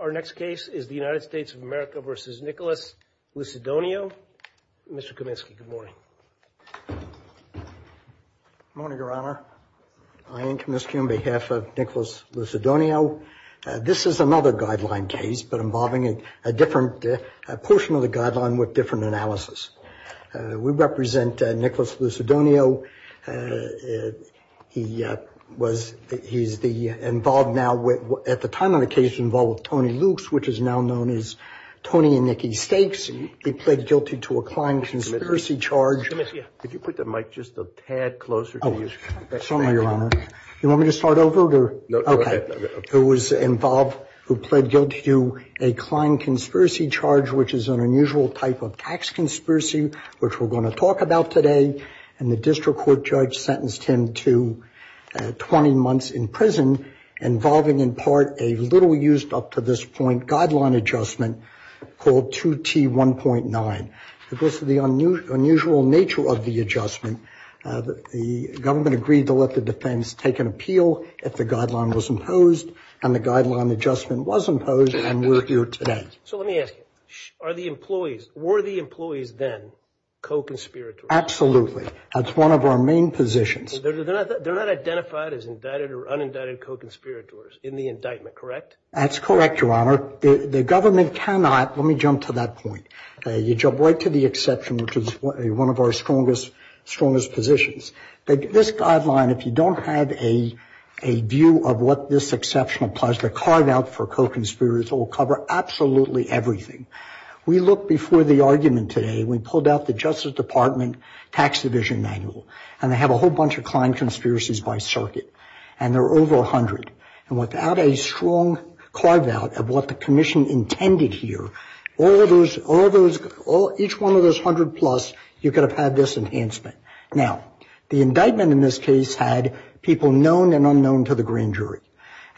Our next case is the United States of America v. Nicholas Lucidonio. Mr. Kaminsky, good morning. Good morning, Your Honor. I am Kaminsky on behalf of Nicholas Lucidonio. This is another guideline case, but involving a different portion of the guideline with different analysis. We represent Nicholas Lucidonio. He was, he's involved now, at the time of the case, involved with Tony Lukes, which is now known as Tony and Nikki Stakes. He pled guilty to a client conspiracy charge. Let me see. Could you put the mic just a tad closer to you? Oh, sorry, Your Honor. You want me to start over or? No, go ahead. Okay. Who was involved, who pled guilty to a client conspiracy charge, which is an unusual type of tax conspiracy, which we're going to talk about today, and the district court judge sentenced him to 20 months in prison, involving in part a little-used-up-to-this-point guideline adjustment called 2T1.9. Because of the unusual nature of the adjustment, the government agreed to let the defense take an appeal if the guideline was imposed, and the guideline adjustment was imposed, and we're here today. So let me ask you. Are the employees, were the employees then co-conspirators? Absolutely. That's one of our main positions. They're not identified as indicted or unindicted co-conspirators in the indictment, correct? That's correct, Your Honor. The government cannot, let me jump to that point. You jump right to the exception, which is one of our strongest positions. This guideline, if you don't have a view of what this exception implies, the carve-out for co-conspirators will cover absolutely everything. We looked before the argument today, we pulled out the Justice Department tax division manual, and they have a whole bunch of client conspiracies by circuit, and there are over 100. And without a strong carve-out of what the commission intended here, all those, all those, each one of those 100 plus, you could have had this enhancement. Now, the indictment in this case had people known and unknown to the grand jury.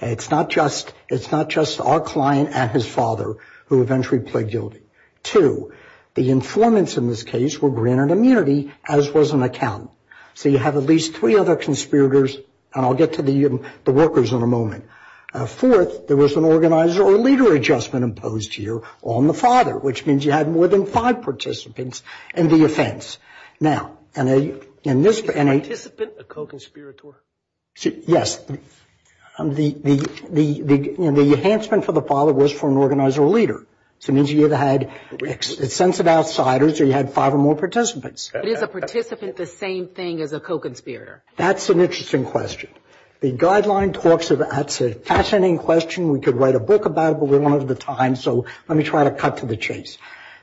It's not just, it's not just our client and his father who eventually pled guilty. Two, the informants in this case were granted immunity, as was an accountant. So you have at least three other conspirators, and I'll get to the workers in a moment. Fourth, there was an organizer or leader adjustment imposed here on the father, which means you had more than five participants in the offense. Now, in this. Participant, a co-conspirator? Yes. The enhancement for the father was for an organizer or leader. So it means you either had extensive outsiders or you had five or more participants. Is a participant the same thing as a co-conspirator? That's an interesting question. The guideline talks about, that's a fascinating question. We could write a book about it, but we don't have the time, so let me try to cut to the chase.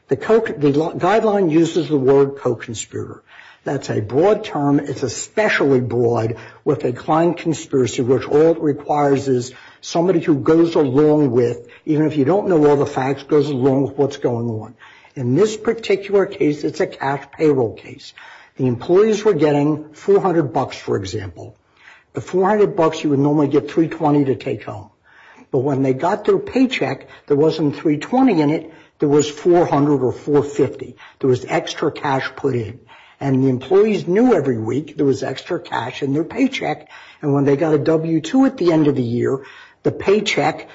The guideline uses the word co-conspirator. That's a broad term. It's especially broad with a client conspiracy, which all it requires is somebody who goes along with, even if you don't know all the facts, goes along with what's going on. In this particular case, it's a cash payroll case. The employees were getting 400 bucks, for example. The 400 bucks you would normally get 320 to take home. But when they got their paycheck, there wasn't 320 in it. There was 400 or 450. There was extra cash put in. And the employees knew every week there was extra cash in their paycheck. And when they got a W-2 at the end of the year, the paycheck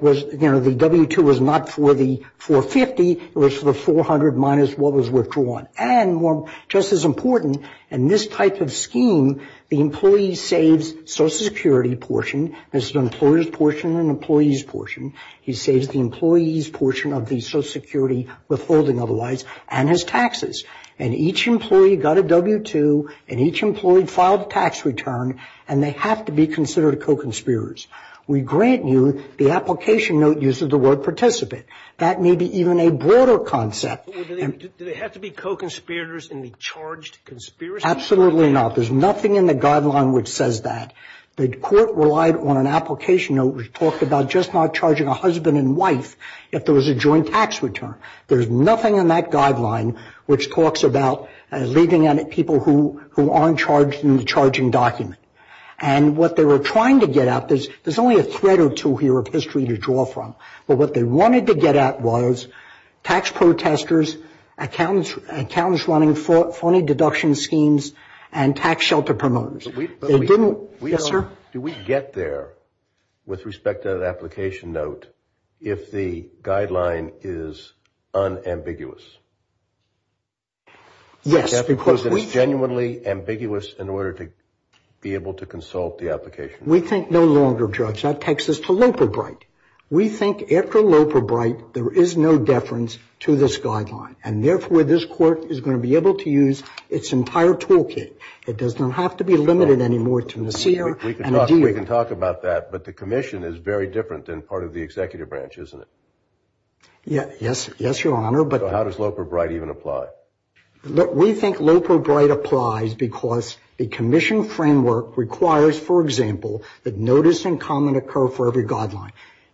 was, you know, the W-2 was not for the 450. It was for the 400 minus what was withdrawn. And just as important, in this type of scheme, the employee saves Social Security portion. There's an employer's portion and an employee's portion. He saves the employee's portion of the Social Security withholding otherwise, and his taxes. And each employee got a W-2, and each employee filed a tax return, and they have to be considered co-conspirators. We grant you the application note uses the word participant. That may be even a broader concept. Do they have to be co-conspirators and be charged conspiracy? Absolutely not. There's nothing in the guideline which says that. The court relied on an application note which talked about just not charging a husband and wife if there was a joint tax return. There's nothing in that guideline which talks about leaving people who aren't charged in the charging document. And what they were trying to get at, there's only a thread or two here of history to draw from, but what they wanted to get at was tax protesters, accountants running phony deduction schemes, and tax shelter promoters. Yes, sir? Do we get there with respect to that application note if the guideline is unambiguous? Yes. Because it's genuinely ambiguous in order to be able to consult the application. We think no longer, Judge. That takes us to lope or bright. We think after lope or bright, there is no deference to this guideline, and therefore, this court is going to be able to use its entire toolkit. It doesn't have to be limited anymore to Nassir and Adir. We can talk about that, but the commission is very different than part of the executive branch, isn't it? Yes, Your Honor. So how does lope or bright even apply? We think lope or bright applies because the commission framework requires, for example, that notice and comment occur for every guideline.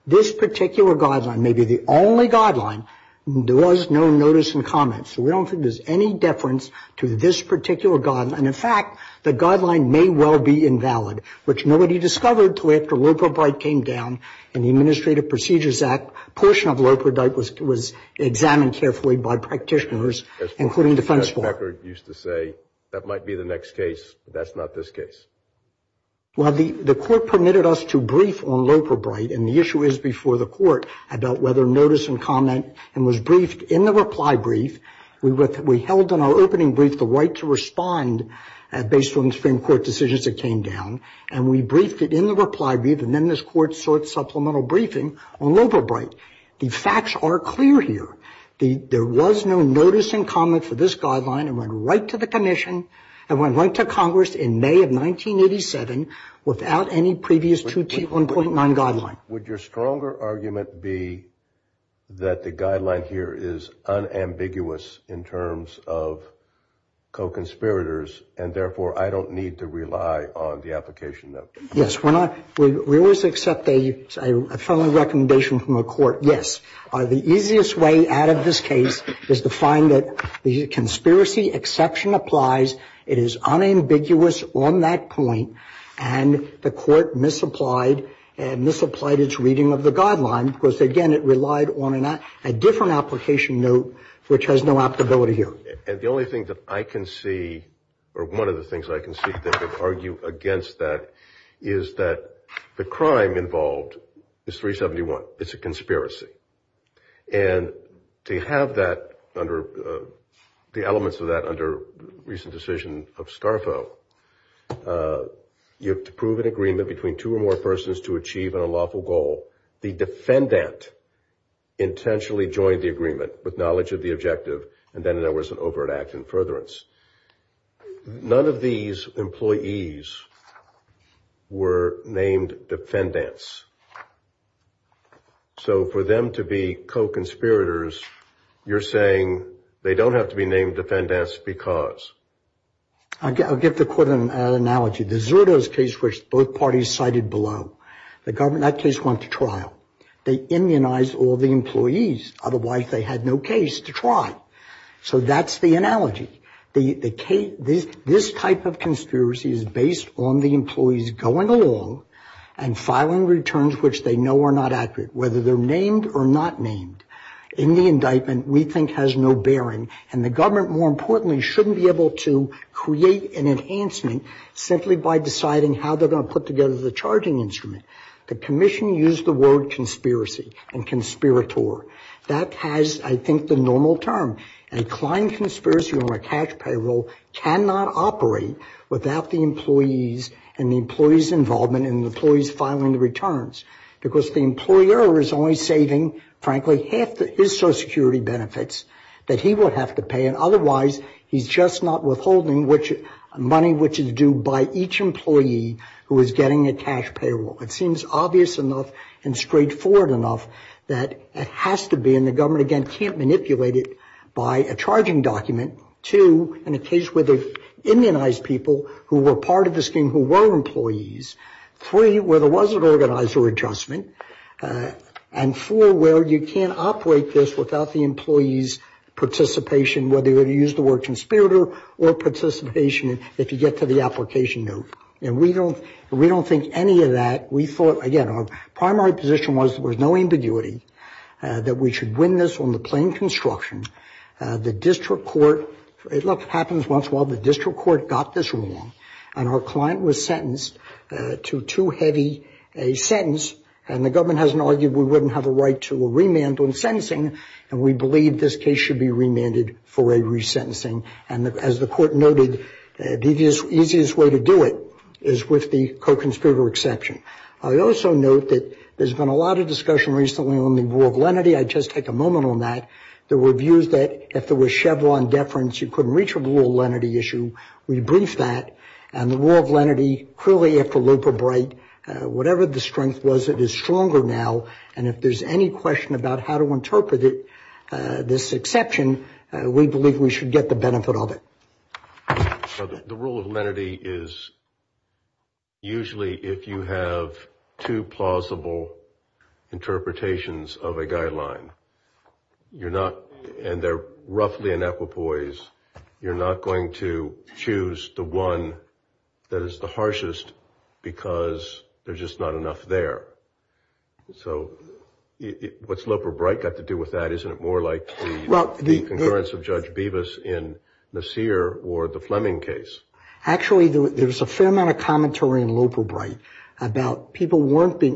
This particular guideline may be the only guideline. There was no notice and comment, so we don't think there's any deference to this particular guideline. And, in fact, the guideline may well be invalid, which nobody discovered until after lope or bright came down in the Administrative Procedures Act. A portion of lope or bright was examined carefully by practitioners, including defense law. As Judge Becker used to say, that might be the next case, but that's not this case. Well, the court permitted us to brief on lope or bright, and the issue is before the court about whether notice and comment, and was briefed in the reply brief. We held in our opening brief the right to respond based on the Supreme Court decisions that came down, and we briefed it in the reply brief, and then this court sought supplemental briefing on lope or bright. The facts are clear here. There was no notice and comment for this guideline. It went right to the commission. It went right to Congress in May of 1987 without any previous 2T1.9 guideline. Would your stronger argument be that the guideline here is unambiguous in terms of co-conspirators, and therefore I don't need to rely on the application note? Yes. We always accept a friendly recommendation from the court, yes. The easiest way out of this case is to find that the conspiracy exception applies. It is unambiguous on that point, and the court misapplied and misapplied its reading of the guideline because, again, it relied on a different application note which has no applicability here. And the only thing that I can see, or one of the things I can see that could argue against that, is that the crime involved is 371. It's a conspiracy. And to have that under, the elements of that under recent decision of Starfo, you have to prove an agreement between two or more persons to achieve an unlawful goal. The defendant intentionally joined the agreement with knowledge of the objective, and then there was an overt act in furtherance. None of these employees were named defendants. So for them to be co-conspirators, you're saying they don't have to be named defendants because? I'll give the court an analogy. The Zerto's case, which both parties cited below, the government, that case went to trial. They immunized all the employees. Otherwise, they had no case to try. So that's the analogy. This type of conspiracy is based on the employees going along and filing returns which they know are not accurate, whether they're named or not named. In the indictment, we think has no bearing. And the government, more importantly, shouldn't be able to create an enhancement simply by deciding how they're going to put together the charging instrument. The commission used the word conspiracy and conspirator. That has, I think, the normal term. A client conspiracy on a cash payroll cannot operate without the employees and the employees' involvement and the employees filing the returns. Because the employer is only saving, frankly, half his Social Security benefits that he would have to pay. And otherwise, he's just not withholding money which is due by each employee who is getting a cash payroll. It seems obvious enough and straightforward enough that it has to be, and the government, again, can't manipulate it by a charging document. Two, in a case where they immunized people who were part of the scheme who were employees. Three, where there was an organizer adjustment. And four, where you can't operate this without the employees' participation, whether you use the word conspirator or participation if you get to the application note. And we don't think any of that. We thought, again, our primary position was there was no ambiguity that we should win this on the plain construction. The district court, it happens once in a while, the district court got this wrong. And our client was sentenced to too heavy a sentence. And the government hasn't argued we wouldn't have a right to a remand on sentencing. And we believe this case should be remanded for a resentencing. And as the court noted, the easiest way to do it is with the co-conspirator exception. I also note that there's been a lot of discussion recently on the rule of lenity. I'd just take a moment on that. There were views that if there was Chevron deference, you couldn't reach a rule of lenity issue. We briefed that. And the rule of lenity, clearly, after Loeb or Bright, whatever the strength was, it is stronger now. And if there's any question about how to interpret it, this exception, we believe we should get the benefit of it. The rule of lenity is usually if you have two plausible interpretations of a guideline, you're not, and they're roughly in equipoise, you're not going to choose the one that is the harshest because there's just not enough there. So what's Loeb or Bright got to do with that? Isn't it more like the concurrence of Judge Bevis in Nasir or the Fleming case? Actually, there was a fair amount of commentary in Loeb or Bright about people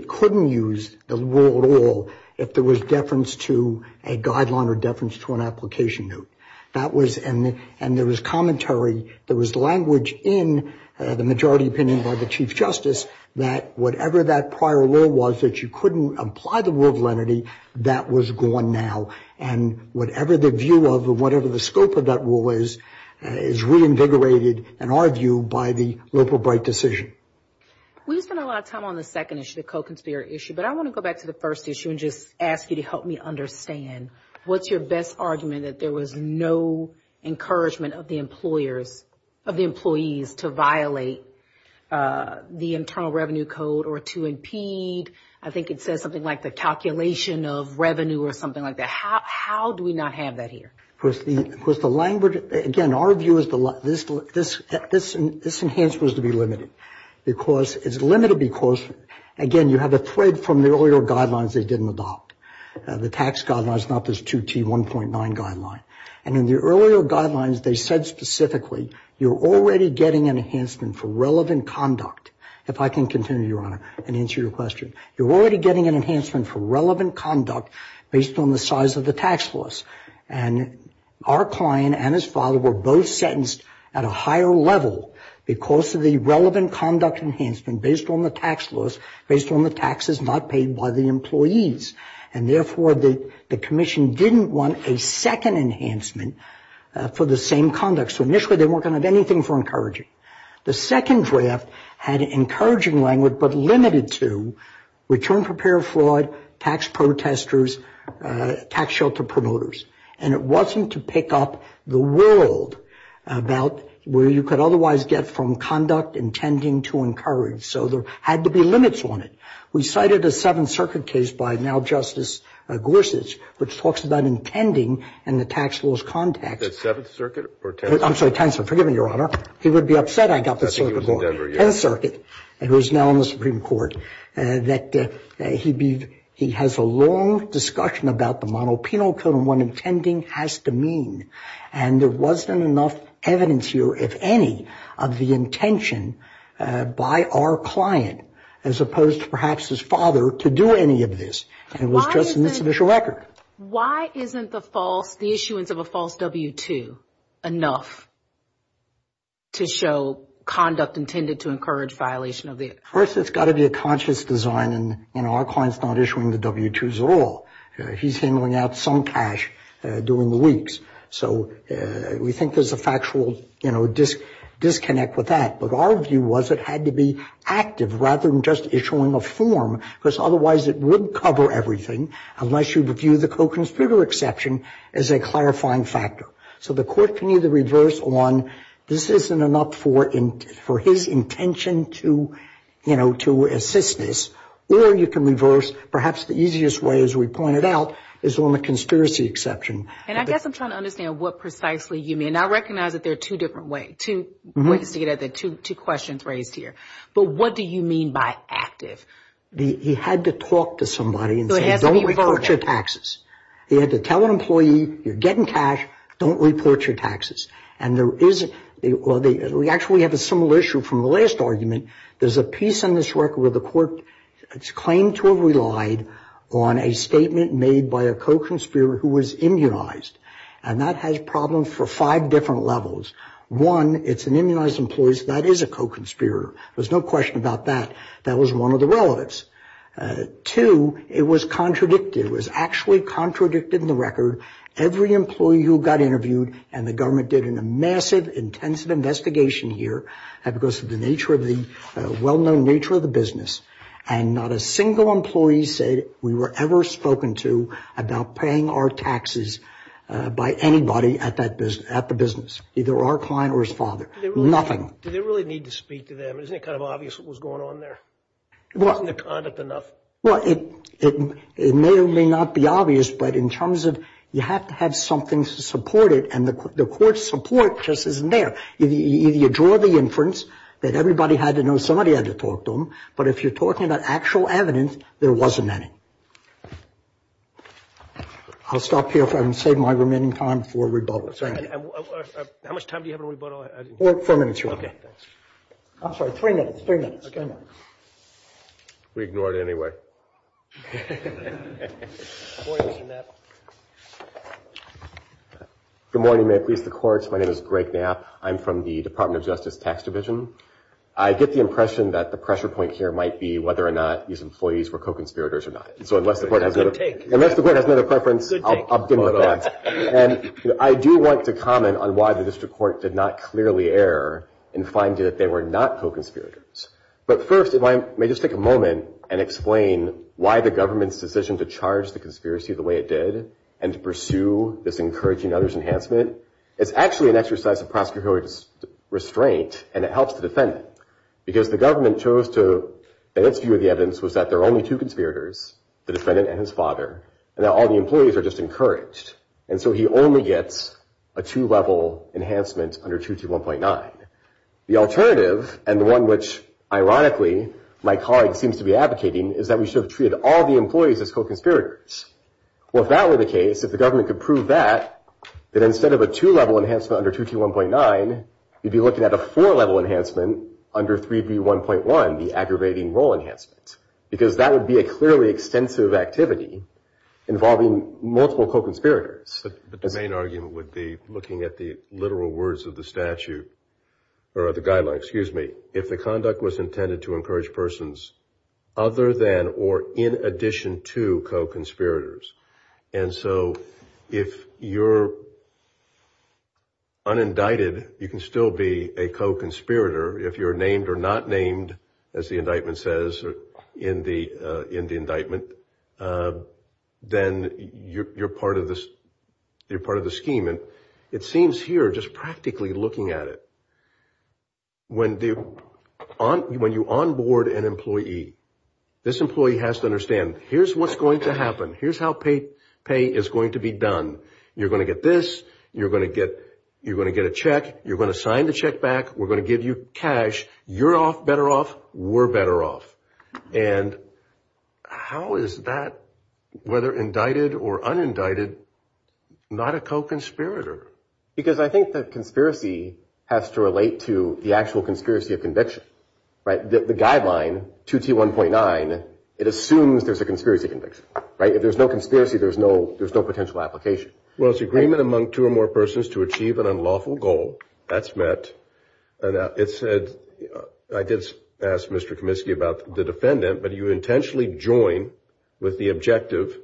couldn't use the rule at all if there was deference to a guideline or deference to an application note. And there was commentary. There was language in the majority opinion by the Chief Justice that whatever that prior rule was, that you couldn't apply the rule of lenity, that was gone now. And whatever the view of or whatever the scope of that rule is, is reinvigorated, in our view, by the Loeb or Bright decision. We spent a lot of time on the second issue, the co-conspirator issue, but I want to go back to the first issue and just ask you to help me understand. What's your best argument that there was no encouragement of the employers, of the employees to violate the Internal Revenue Code or to impede? I think it says something like the calculation of revenue or something like that. How do we not have that here? Of course, the language, again, our view is this enhancement is to be limited. Because it's limited because, again, you have a thread from the earlier guidelines they didn't adopt. The tax guidelines, not this 2T1.9 guideline. And in the earlier guidelines, they said specifically you're already getting an enhancement for relevant conduct. If I can continue, Your Honor, and answer your question. You're already getting an enhancement for relevant conduct based on the size of the tax loss. And our client and his father were both sentenced at a higher level because of the relevant conduct enhancement based on the tax loss, based on the taxes not paid by the employees. And, therefore, the commission didn't want a second enhancement for the same conduct. So initially they weren't going to have anything for encouraging. The second draft had encouraging language but limited to return prepared fraud, tax protesters, tax shelter promoters. And it wasn't to pick up the world about where you could otherwise get from conduct intending to encourage. So there had to be limits on it. We cited a Seventh Circuit case by now Justice Gorsuch, which talks about intending and the tax loss context. Is that Seventh Circuit or 10th Circuit? I'm sorry, 10th Circuit. Forgive me, Your Honor. He would be upset I got the Circuit Court. I think he was in Denver, yes. 10th Circuit. It was now in the Supreme Court. That he has a long discussion about the monopenal code and what intending has to mean. And there wasn't enough evidence here, if any, of the intention by our client, as opposed to perhaps his father, to do any of this. And it was just in this official record. Why isn't the issuance of a false W-2 enough to show conduct intended to encourage violation? First, it's got to be a conscious design. And our client's not issuing the W-2s at all. He's handling out some cash during the weeks. So we think there's a factual, you know, disconnect with that. But our view was it had to be active rather than just issuing a form. Because otherwise it wouldn't cover everything unless you view the co-conspirator exception as a clarifying factor. So the court can either reverse on this isn't enough for his intention to, you know, to assist this. Or you can reverse, perhaps the easiest way, as we pointed out, is on the conspiracy exception. And I guess I'm trying to understand what precisely you mean. And I recognize that there are two different ways to get at the two questions raised here. But what do you mean by active? He had to talk to somebody and say, don't report your taxes. He had to tell an employee, you're getting cash, don't report your taxes. And there is, well, we actually have a similar issue from the last argument. There's a piece on this record where the court claimed to have relied on a statement made by a co-conspirator who was immunized. And that has problems for five different levels. One, it's an immunized employee, so that is a co-conspirator. There's no question about that. That was one of the relatives. Two, it was contradicted. It was actually contradicted in the record. Every employee who got interviewed, and the government did a massive, intensive investigation here, because of the well-known nature of the business, and not a single employee said we were ever spoken to about paying our taxes by anybody at the business, either our client or his father. Nothing. Do they really need to speak to them? Isn't it kind of obvious what was going on there? Wasn't the conduct enough? Well, it may or may not be obvious, but in terms of you have to have something to support it, and the court's support just isn't there. You draw the inference that everybody had to know somebody had to talk to them, but if you're talking about actual evidence, there wasn't any. I'll stop here and save my remaining time for rebuttal. How much time do you have on rebuttal? Four minutes, your Honor. Okay, thanks. I'm sorry, three minutes, three minutes, three minutes. We ignored it anyway. Good morning, may it please the courts. My name is Greg Knapp. I'm from the Department of Justice Tax Division. I get the impression that the pressure point here might be whether or not these employees were co-conspirators or not. So unless the court has another preference, I'll dim the lights. And I do want to comment on why the district court did not clearly err and find that they were not co-conspirators. But first, if I may just take a moment and explain why the government's decision to charge the conspiracy the way it did and to pursue this encouraging others enhancement is actually an exercise of prosecutorial restraint and it helps the defendant. Because the government chose to, in its view of the evidence, was that there are only two conspirators, the defendant and his father, and that all the employees are just encouraged. And so he only gets a two-level enhancement under 2T1.9. The alternative, and the one which, ironically, my colleague seems to be advocating, is that we should have treated all the employees as co-conspirators. Well, if that were the case, if the government could prove that, that instead of a two-level enhancement under 2T1.9, you'd be looking at a four-level enhancement under 3B1.1, the aggravating role enhancement. Because that would be a clearly extensive activity involving multiple co-conspirators. But the main argument would be, looking at the literal words of the statute, or the guidelines, excuse me, if the conduct was intended to encourage persons other than or in addition to co-conspirators. And so if you're unindicted, you can still be a co-conspirator. If you're named or not named, as the indictment says in the indictment, then you're part of the scheme. It seems here, just practically looking at it, when you onboard an employee, this employee has to understand, here's what's going to happen. Here's how pay is going to be done. You're going to get this. You're going to get a check. You're going to sign the check back. We're going to give you cash. You're better off. We're better off. And how is that, whether indicted or unindicted, not a co-conspirator? Because I think that conspiracy has to relate to the actual conspiracy of conviction. The guideline, 2T1.9, it assumes there's a conspiracy conviction. If there's no conspiracy, there's no potential application. Well, it's agreement among two or more persons to achieve an unlawful goal. That's met. And it said, I did ask Mr. Kaminsky about the defendant, but you intentionally join with the objective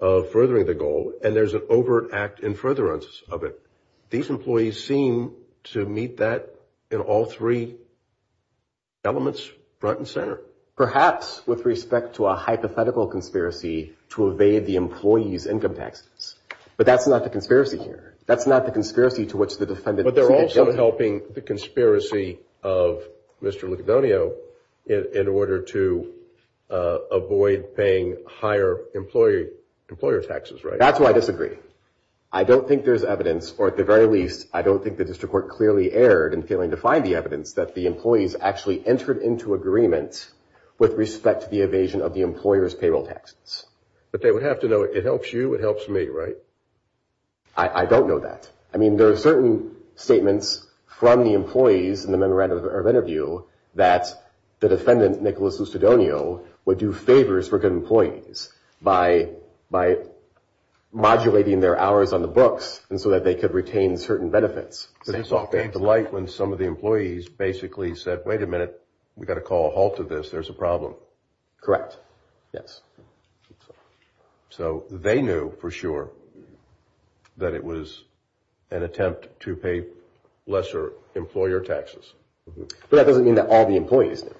of furthering the goal, and there's an overt act in furtherance of it. These employees seem to meet that in all three elements, front and center. Perhaps with respect to a hypothetical conspiracy to evade the employee's income taxes. But that's not the conspiracy here. That's not the conspiracy to which the defendant seemed to jump. But they're also helping the conspiracy of Mr. Lucadonio in order to avoid paying higher employer taxes, right? That's why I disagree. I don't think there's evidence, or at the very least, I don't think the district court clearly erred in failing to find the evidence that the employees actually entered into agreement with respect to the evasion of the employer's payroll taxes. But they would have to know, it helps you, it helps me, right? I don't know that. I mean, there are certain statements from the employees in the memorandum of interview that the defendant, Nicholas Lucadonio, would do favors for good employees by modulating their hours on the books, and so that they could retain certain benefits. So this all came to light when some of the employees basically said, wait a minute, we've got to call a halt to this, there's a problem. Correct, yes. So they knew for sure that it was an attempt to pay lesser employer taxes. But that doesn't mean that all the employees knew.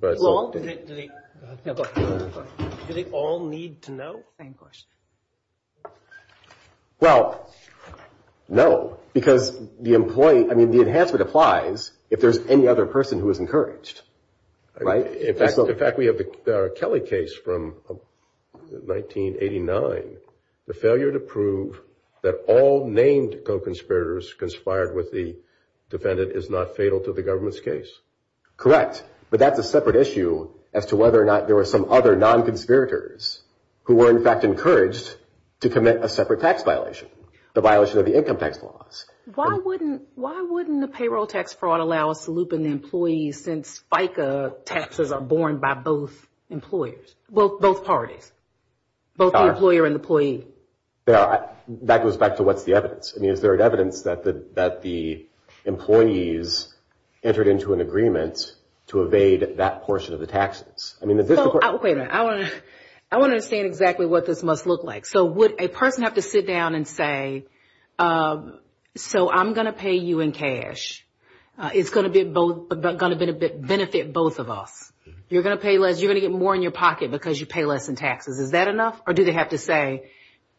Do they all need to know? Same question. Well, no, because the employee, I mean, the enhancement applies if there's any other person who is encouraged, right? In fact, we have the Kelly case from 1989, the failure to prove that all named co-conspirators conspired with the defendant is not fatal to the government's case. Correct. But that's a separate issue as to whether or not there were some other non-conspirators who were in fact encouraged to commit a separate tax violation, the violation of the income tax laws. Why wouldn't the payroll tax fraud allow us to loop in the employees since FICA taxes are borne by both parties, both the employer and employee? That goes back to what's the evidence. I mean, is there evidence that the employees entered into an agreement to evade that portion of the taxes? Wait a minute, I want to understand exactly what this must look like. So would a person have to sit down and say, so I'm going to pay you in cash, it's going to benefit both of us. You're going to get more in your pocket because you pay less in taxes. Is that enough? Or do they have to say,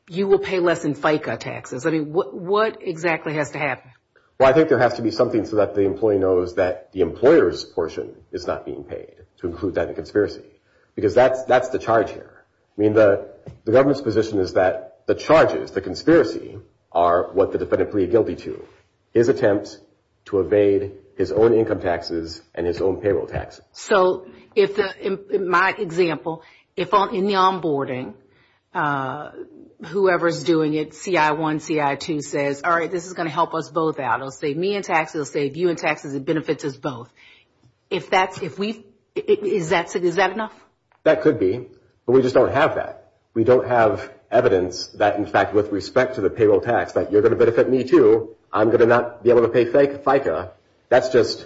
you will pay less in FICA taxes? I mean, what exactly has to happen? Well, I think there has to be something so that the employee knows that the employer's portion is not being paid to include that in the conspiracy because that's the charge here. I mean, the government's position is that the charges, the conspiracy, are what the defendant pleaded guilty to. His attempt to evade his own income taxes and his own payroll taxes. So in my example, in the onboarding, whoever's doing it, CI1, CI2 says, all right, this is going to help us both out. It will save me in taxes. It will save you in taxes. It benefits us both. Is that enough? That could be, but we just don't have that. We don't have evidence that, in fact, with respect to the payroll tax, that you're going to benefit me too. I'm going to not be able to pay FICA. That's just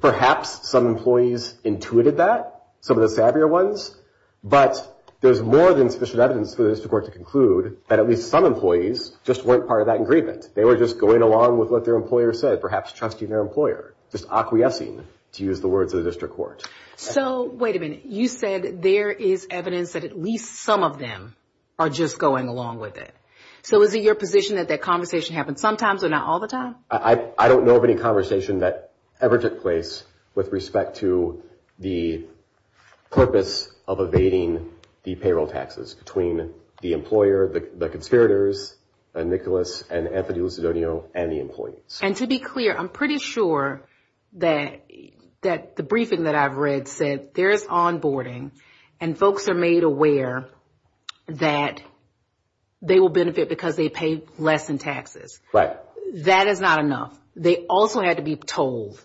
perhaps some employees intuited that, some of the savvier ones. But there's more than sufficient evidence for the district court to conclude that at least some employees just weren't part of that agreement. They were just going along with what their employer said, perhaps trusting their employer, just acquiescing, to use the words of the district court. So wait a minute. You said there is evidence that at least some of them are just going along with it. So is it your position that that conversation happens sometimes or not all the time? I don't know of any conversation that ever took place with respect to the purpose of evading the payroll taxes between the employer, the conspirators, Nicholas and Anthony Lucidoneo, and the employees. And to be clear, I'm pretty sure that the briefing that I've read said there is onboarding and folks are made aware that they will benefit because they pay less in taxes. That is not enough. They also had to be told,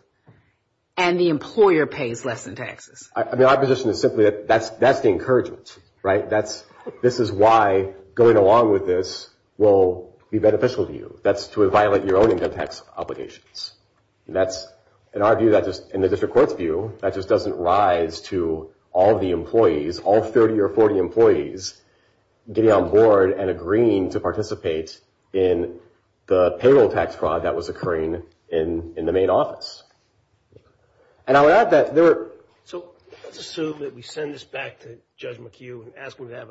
and the employer pays less in taxes. I mean, our position is simply that that's the encouragement, right? This is why going along with this will be beneficial to you. That's to violate your own income tax obligations. In our view, in the district court's view, that just doesn't rise to all the employees, all 30 or 40 employees getting on board and agreeing to participate in the payroll tax fraud that was occurring in the main office. And I would add that there were... So let's assume that we send this back to Judge McHugh and ask him to have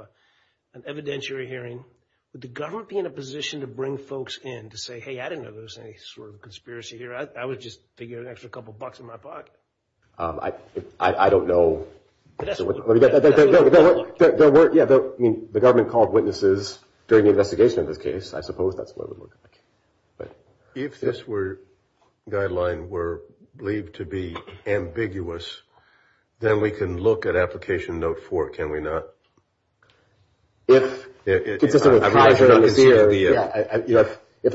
an evidentiary hearing. Would the government be in a position to bring folks in to say, hey, I didn't know there was any sort of conspiracy here. I was just figuring an extra couple of bucks in my pocket. I don't know. The government called witnesses during the investigation of this case. I suppose that's what it would look like. If this guideline were believed to be ambiguous, then we can look at Application Note 4, can we not? If the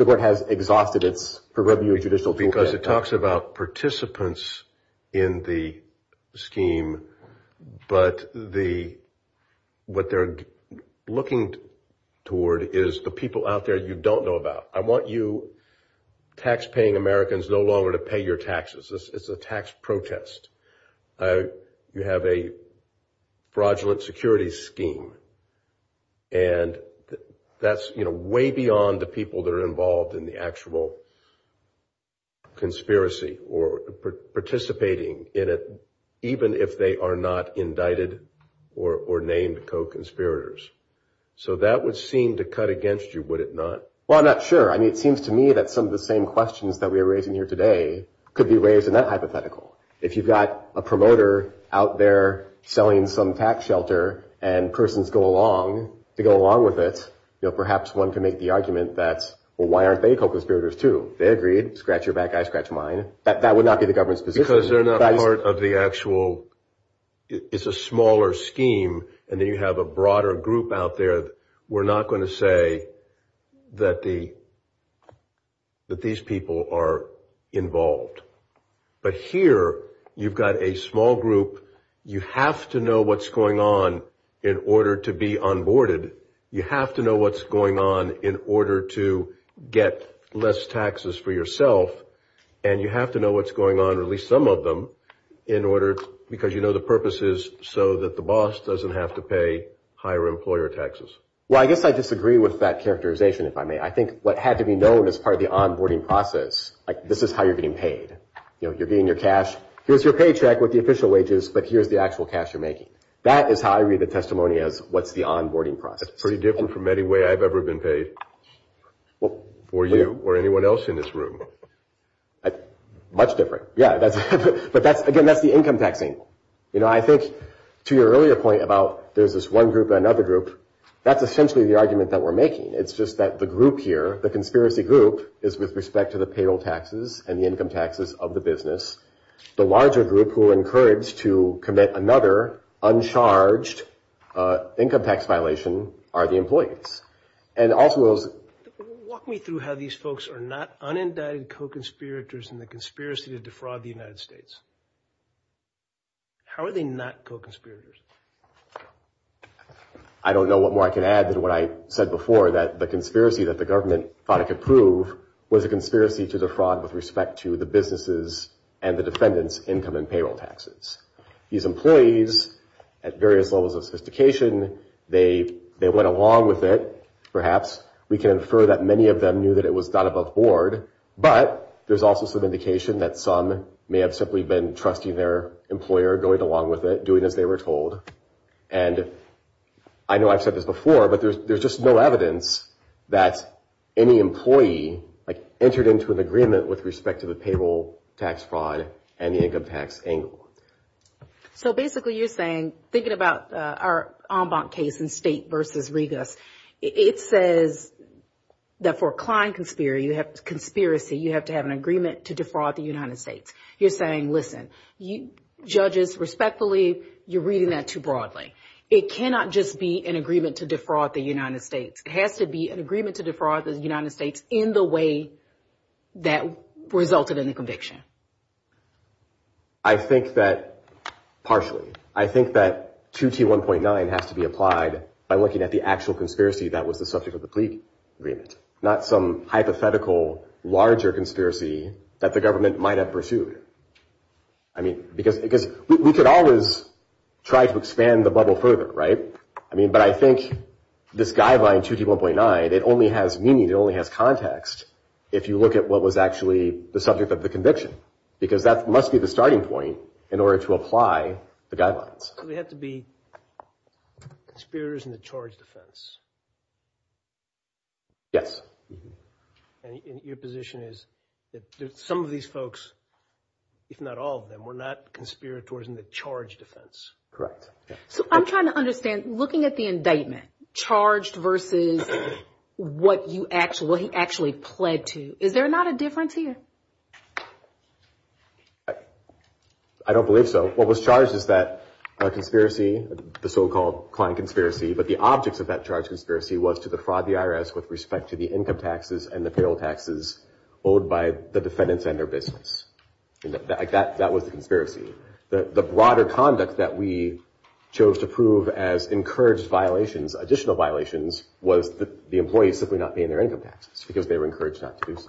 court has exhausted its prerogative judicial... Because it talks about participants in the scheme, but what they're looking toward is the people out there you don't know about. I want you taxpaying Americans no longer to pay your taxes. It's a tax protest. You have a fraudulent security scheme. And that's way beyond the people that are involved in the actual conspiracy or participating in it, even if they are not indicted or named co-conspirators. So that would seem to cut against you, would it not? Well, I'm not sure. I mean, it seems to me that some of the same questions that we are raising here today could be raised in that hypothetical. If you've got a promoter out there selling some tax shelter and persons go along to go along with it, perhaps one can make the argument that, well, why aren't they co-conspirators too? They agreed. Scratch your back, I scratch mine. That would not be the government's position. Because they're not part of the actual... It's a smaller scheme, and then you have a broader group out there. We're not going to say that these people are involved. But here you've got a small group. You have to know what's going on in order to be onboarded. You have to know what's going on in order to get less taxes for yourself. And you have to know what's going on, or at least some of them, because you know the purpose is so that the boss doesn't have to pay higher employer taxes. Well, I guess I disagree with that characterization, if I may. I think what had to be known as part of the onboarding process, like this is how you're getting paid. You're getting your cash. Here's your paycheck with the official wages, but here's the actual cash you're making. That is how I read the testimony as what's the onboarding process. That's pretty different from any way I've ever been paid, or you, or anyone else in this room. Much different, yeah. But, again, that's the income taxing. You know, I think to your earlier point about there's this one group and another group, that's essentially the argument that we're making. It's just that the group here, the conspiracy group, is with respect to the payroll taxes and the income taxes of the business. The larger group who are encouraged to commit another uncharged income tax violation are the employees. Walk me through how these folks are not unindicted co-conspirators in the conspiracy to defraud the United States. How are they not co-conspirators? I don't know what more I can add than what I said before, that the conspiracy that the government thought it could prove was a conspiracy to defraud with respect to the businesses and the defendants' income and payroll taxes. These employees, at various levels of sophistication, they went along with it, perhaps. We can infer that many of them knew that it was not above board, but there's also some indication that some may have simply been trusting their employer, going along with it, doing as they were told. And I know I've said this before, but there's just no evidence that any employee, like, entered into an agreement with respect to the payroll tax fraud and the income tax angle. So, basically, you're saying, thinking about our en banc case in State versus Regus, it says that for a client conspiracy, you have to have an agreement to defraud the United States. You're saying, listen, judges, respectfully, you're reading that too broadly. It cannot just be an agreement to defraud the United States. It has to be an agreement to defraud the United States in the way that resulted in the conviction. I think that partially. I think that 2T1.9 has to be applied by looking at the actual conspiracy that was the subject of the plea agreement, not some hypothetical larger conspiracy that the government might have pursued. I mean, because we could always try to expand the bubble further, right? I mean, but I think this guideline, 2T1.9, it only has meaning, it only has context, if you look at what was actually the subject of the conviction, because that must be the starting point in order to apply the guidelines. So they have to be conspirators in the charge defense? Yes. And your position is that some of these folks, if not all of them, were not conspirators in the charge defense? Correct. So I'm trying to understand, looking at the indictment, charged versus what he actually pled to, is there not a difference here? I don't believe so. What was charged is that conspiracy, the so-called client conspiracy, but the objects of that charge conspiracy was to defraud the IRS with respect to the income taxes and the payroll taxes owed by the defendants and their business. That was the conspiracy. The broader conduct that we chose to prove as encouraged violations, additional violations, was the employees simply not paying their income taxes, because they were encouraged not to do so.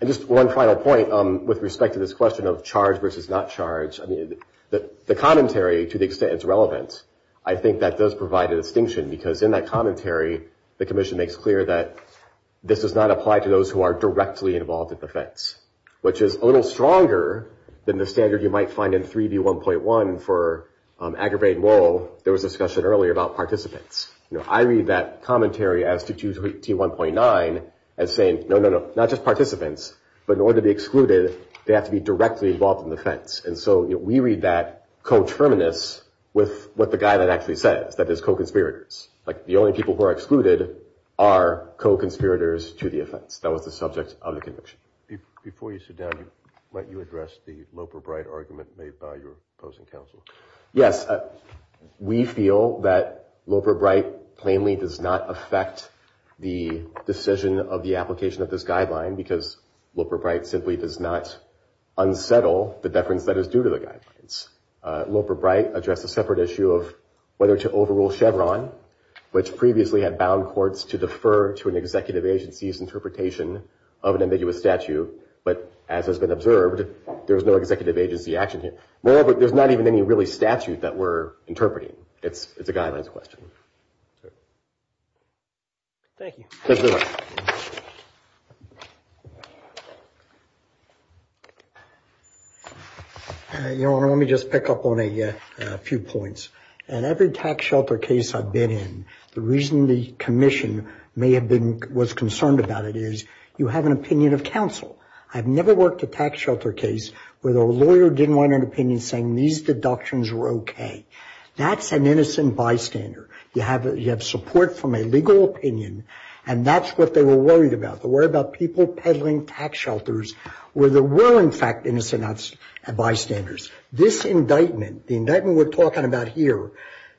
And just one final point with respect to this question of charge versus not charge. I mean, the commentary, to the extent it's relevant, I think that does provide a distinction, because in that commentary, the commission makes clear that this does not apply to those who are directly involved in defense, which is a little stronger than the standard you might find in 3D1.1 for aggravating woe. There was a discussion earlier about participants. I read that commentary as to 2D1.9 as saying, no, no, no, not just participants, but in order to be excluded, they have to be directly involved in defense. And so we read that co-terminus with what the guy that actually says, that is co-conspirators, like the only people who are excluded are co-conspirators to the offense. That was the subject of the conviction. Before you sit down, might you address the Loper-Bright argument made by your opposing counsel? Yes. We feel that Loper-Bright plainly does not affect the decision of the application of this guideline, because Loper-Bright simply does not unsettle the deference that is due to the guidelines. Loper-Bright addressed a separate issue of whether to overrule Chevron, which previously had bound courts to defer to an executive agency's interpretation of an ambiguous statute, but as has been observed, there's no executive agency action here. Moreover, there's not even any really statute that we're interpreting. It's a guidelines question. Thank you. Your Honor, let me just pick up on a few points. In every tax shelter case I've been in, the reason the commission may have been, was concerned about it is, you have an opinion of counsel. I've never worked a tax shelter case where the lawyer didn't want an opinion saying these deductions were okay. That's an innocent bystander. You have support from a legal opinion, and that's what they were worried about. They were worried about people peddling tax shelters where there were, in fact, innocent bystanders. This indictment, the indictment we're talking about here,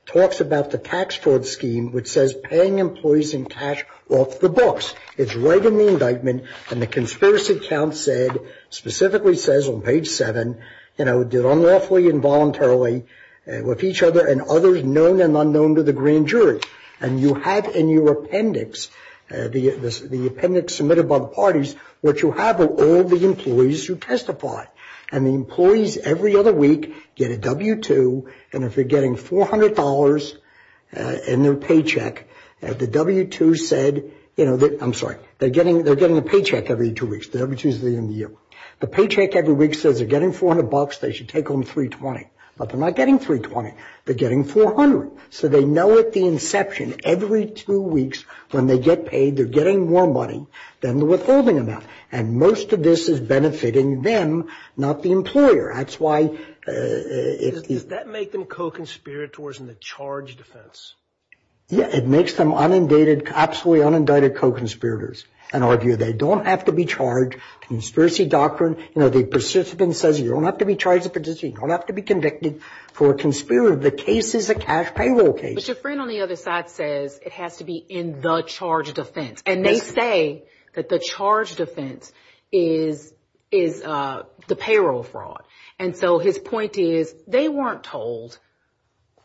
talks about the tax fraud scheme, which says paying employees in cash off the books. It's right in the indictment, and the conspiracy account said, specifically says on page seven, you know, did unlawfully and voluntarily with each other and others known and unknown to the grand jury. And you have in your appendix, the appendix submitted by the parties, what you have are all the employees who testified. And the employees every other week get a W-2, and if they're getting $400 in their paycheck, the W-2 said, you know, I'm sorry, they're getting a paycheck every two weeks. The W-2 is the end of the year. The paycheck every week says they're getting $400, they should take home $320. But they're not getting $320. They're getting $400. So they know at the inception, every two weeks when they get paid, they're getting more money than the withholding amount. And most of this is benefiting them, not the employer. That's why it is. Does that make them co-conspirators in the charge defense? Yeah. It makes them unindicted, absolutely unindicted co-conspirators. And argue they don't have to be charged. Conspiracy doctrine, you know, the persistence says you don't have to be charged with a disease. You don't have to be convicted for a conspiracy. The case is a cash payroll case. But your friend on the other side says it has to be in the charge defense. And they say that the charge defense is the payroll fraud. And so his point is they weren't told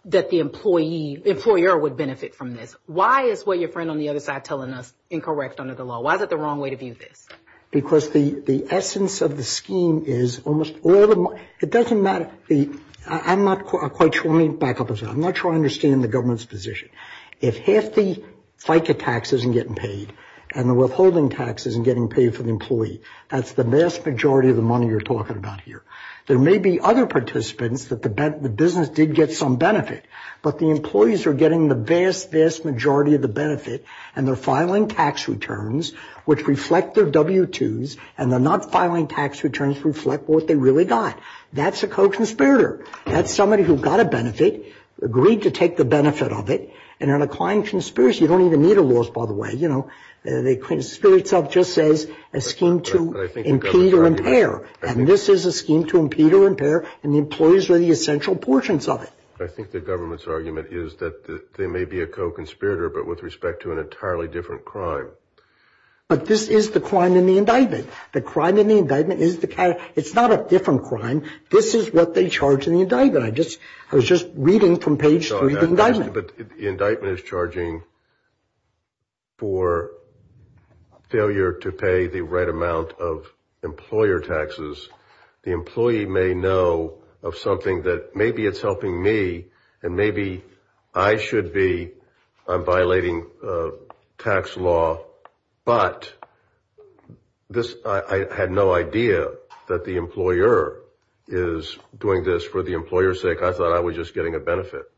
that the employer would benefit from this. Why is what your friend on the other side is telling us incorrect under the law? Why is that the wrong way to view this? Because the essence of the scheme is almost all the money, it doesn't matter. I'm not quite sure, let me back up a second. I'm not sure I understand the government's position. If half the FICA tax isn't getting paid and the withholding tax isn't getting paid for the employee, that's the vast majority of the money you're talking about here. There may be other participants that the business did get some benefit, but the employees are getting the vast, vast majority of the benefit and they're filing tax returns which reflect their W-2s and they're not filing tax returns reflect what they really got. That's a co-conspirator. That's somebody who got a benefit, agreed to take the benefit of it, and in a client conspiracy, you don't even need a loss, by the way. You know, the conspiracy itself just says a scheme to impede or impair. And this is a scheme to impede or impair and the employees are the essential portions of it. I think the government's argument is that they may be a co-conspirator, but with respect to an entirely different crime. But this is the crime in the indictment. The crime in the indictment is the kind of, it's not a different crime. This is what they charge in the indictment. I was just reading from page three of the indictment. But the indictment is charging for failure to pay the right amount of employer taxes. The employee may know of something that maybe it's helping me and maybe I should be violating tax law, but I had no idea that the employer is doing this for the employer's sake. I thought I was just getting a benefit.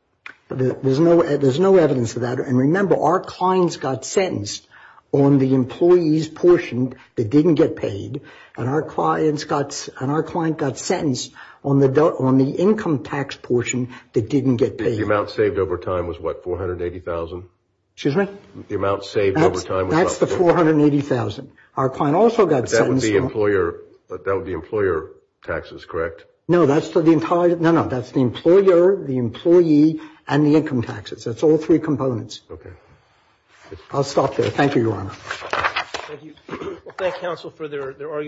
There's no evidence of that. And remember, our clients got sentenced on the employee's portion that didn't get paid and our client got sentenced on the income tax portion that didn't get paid. The amount saved over time was what, $480,000? Excuse me? The amount saved over time was what? That's the $480,000. Our client also got sentenced. But that was the employer taxes, correct? No, that's the entire, no, no. That's the employer, the employee, and the income taxes. That's all three components. Okay. I'll stop there. Thank you, Your Honor. Thank you. We'll thank counsel for their arguments.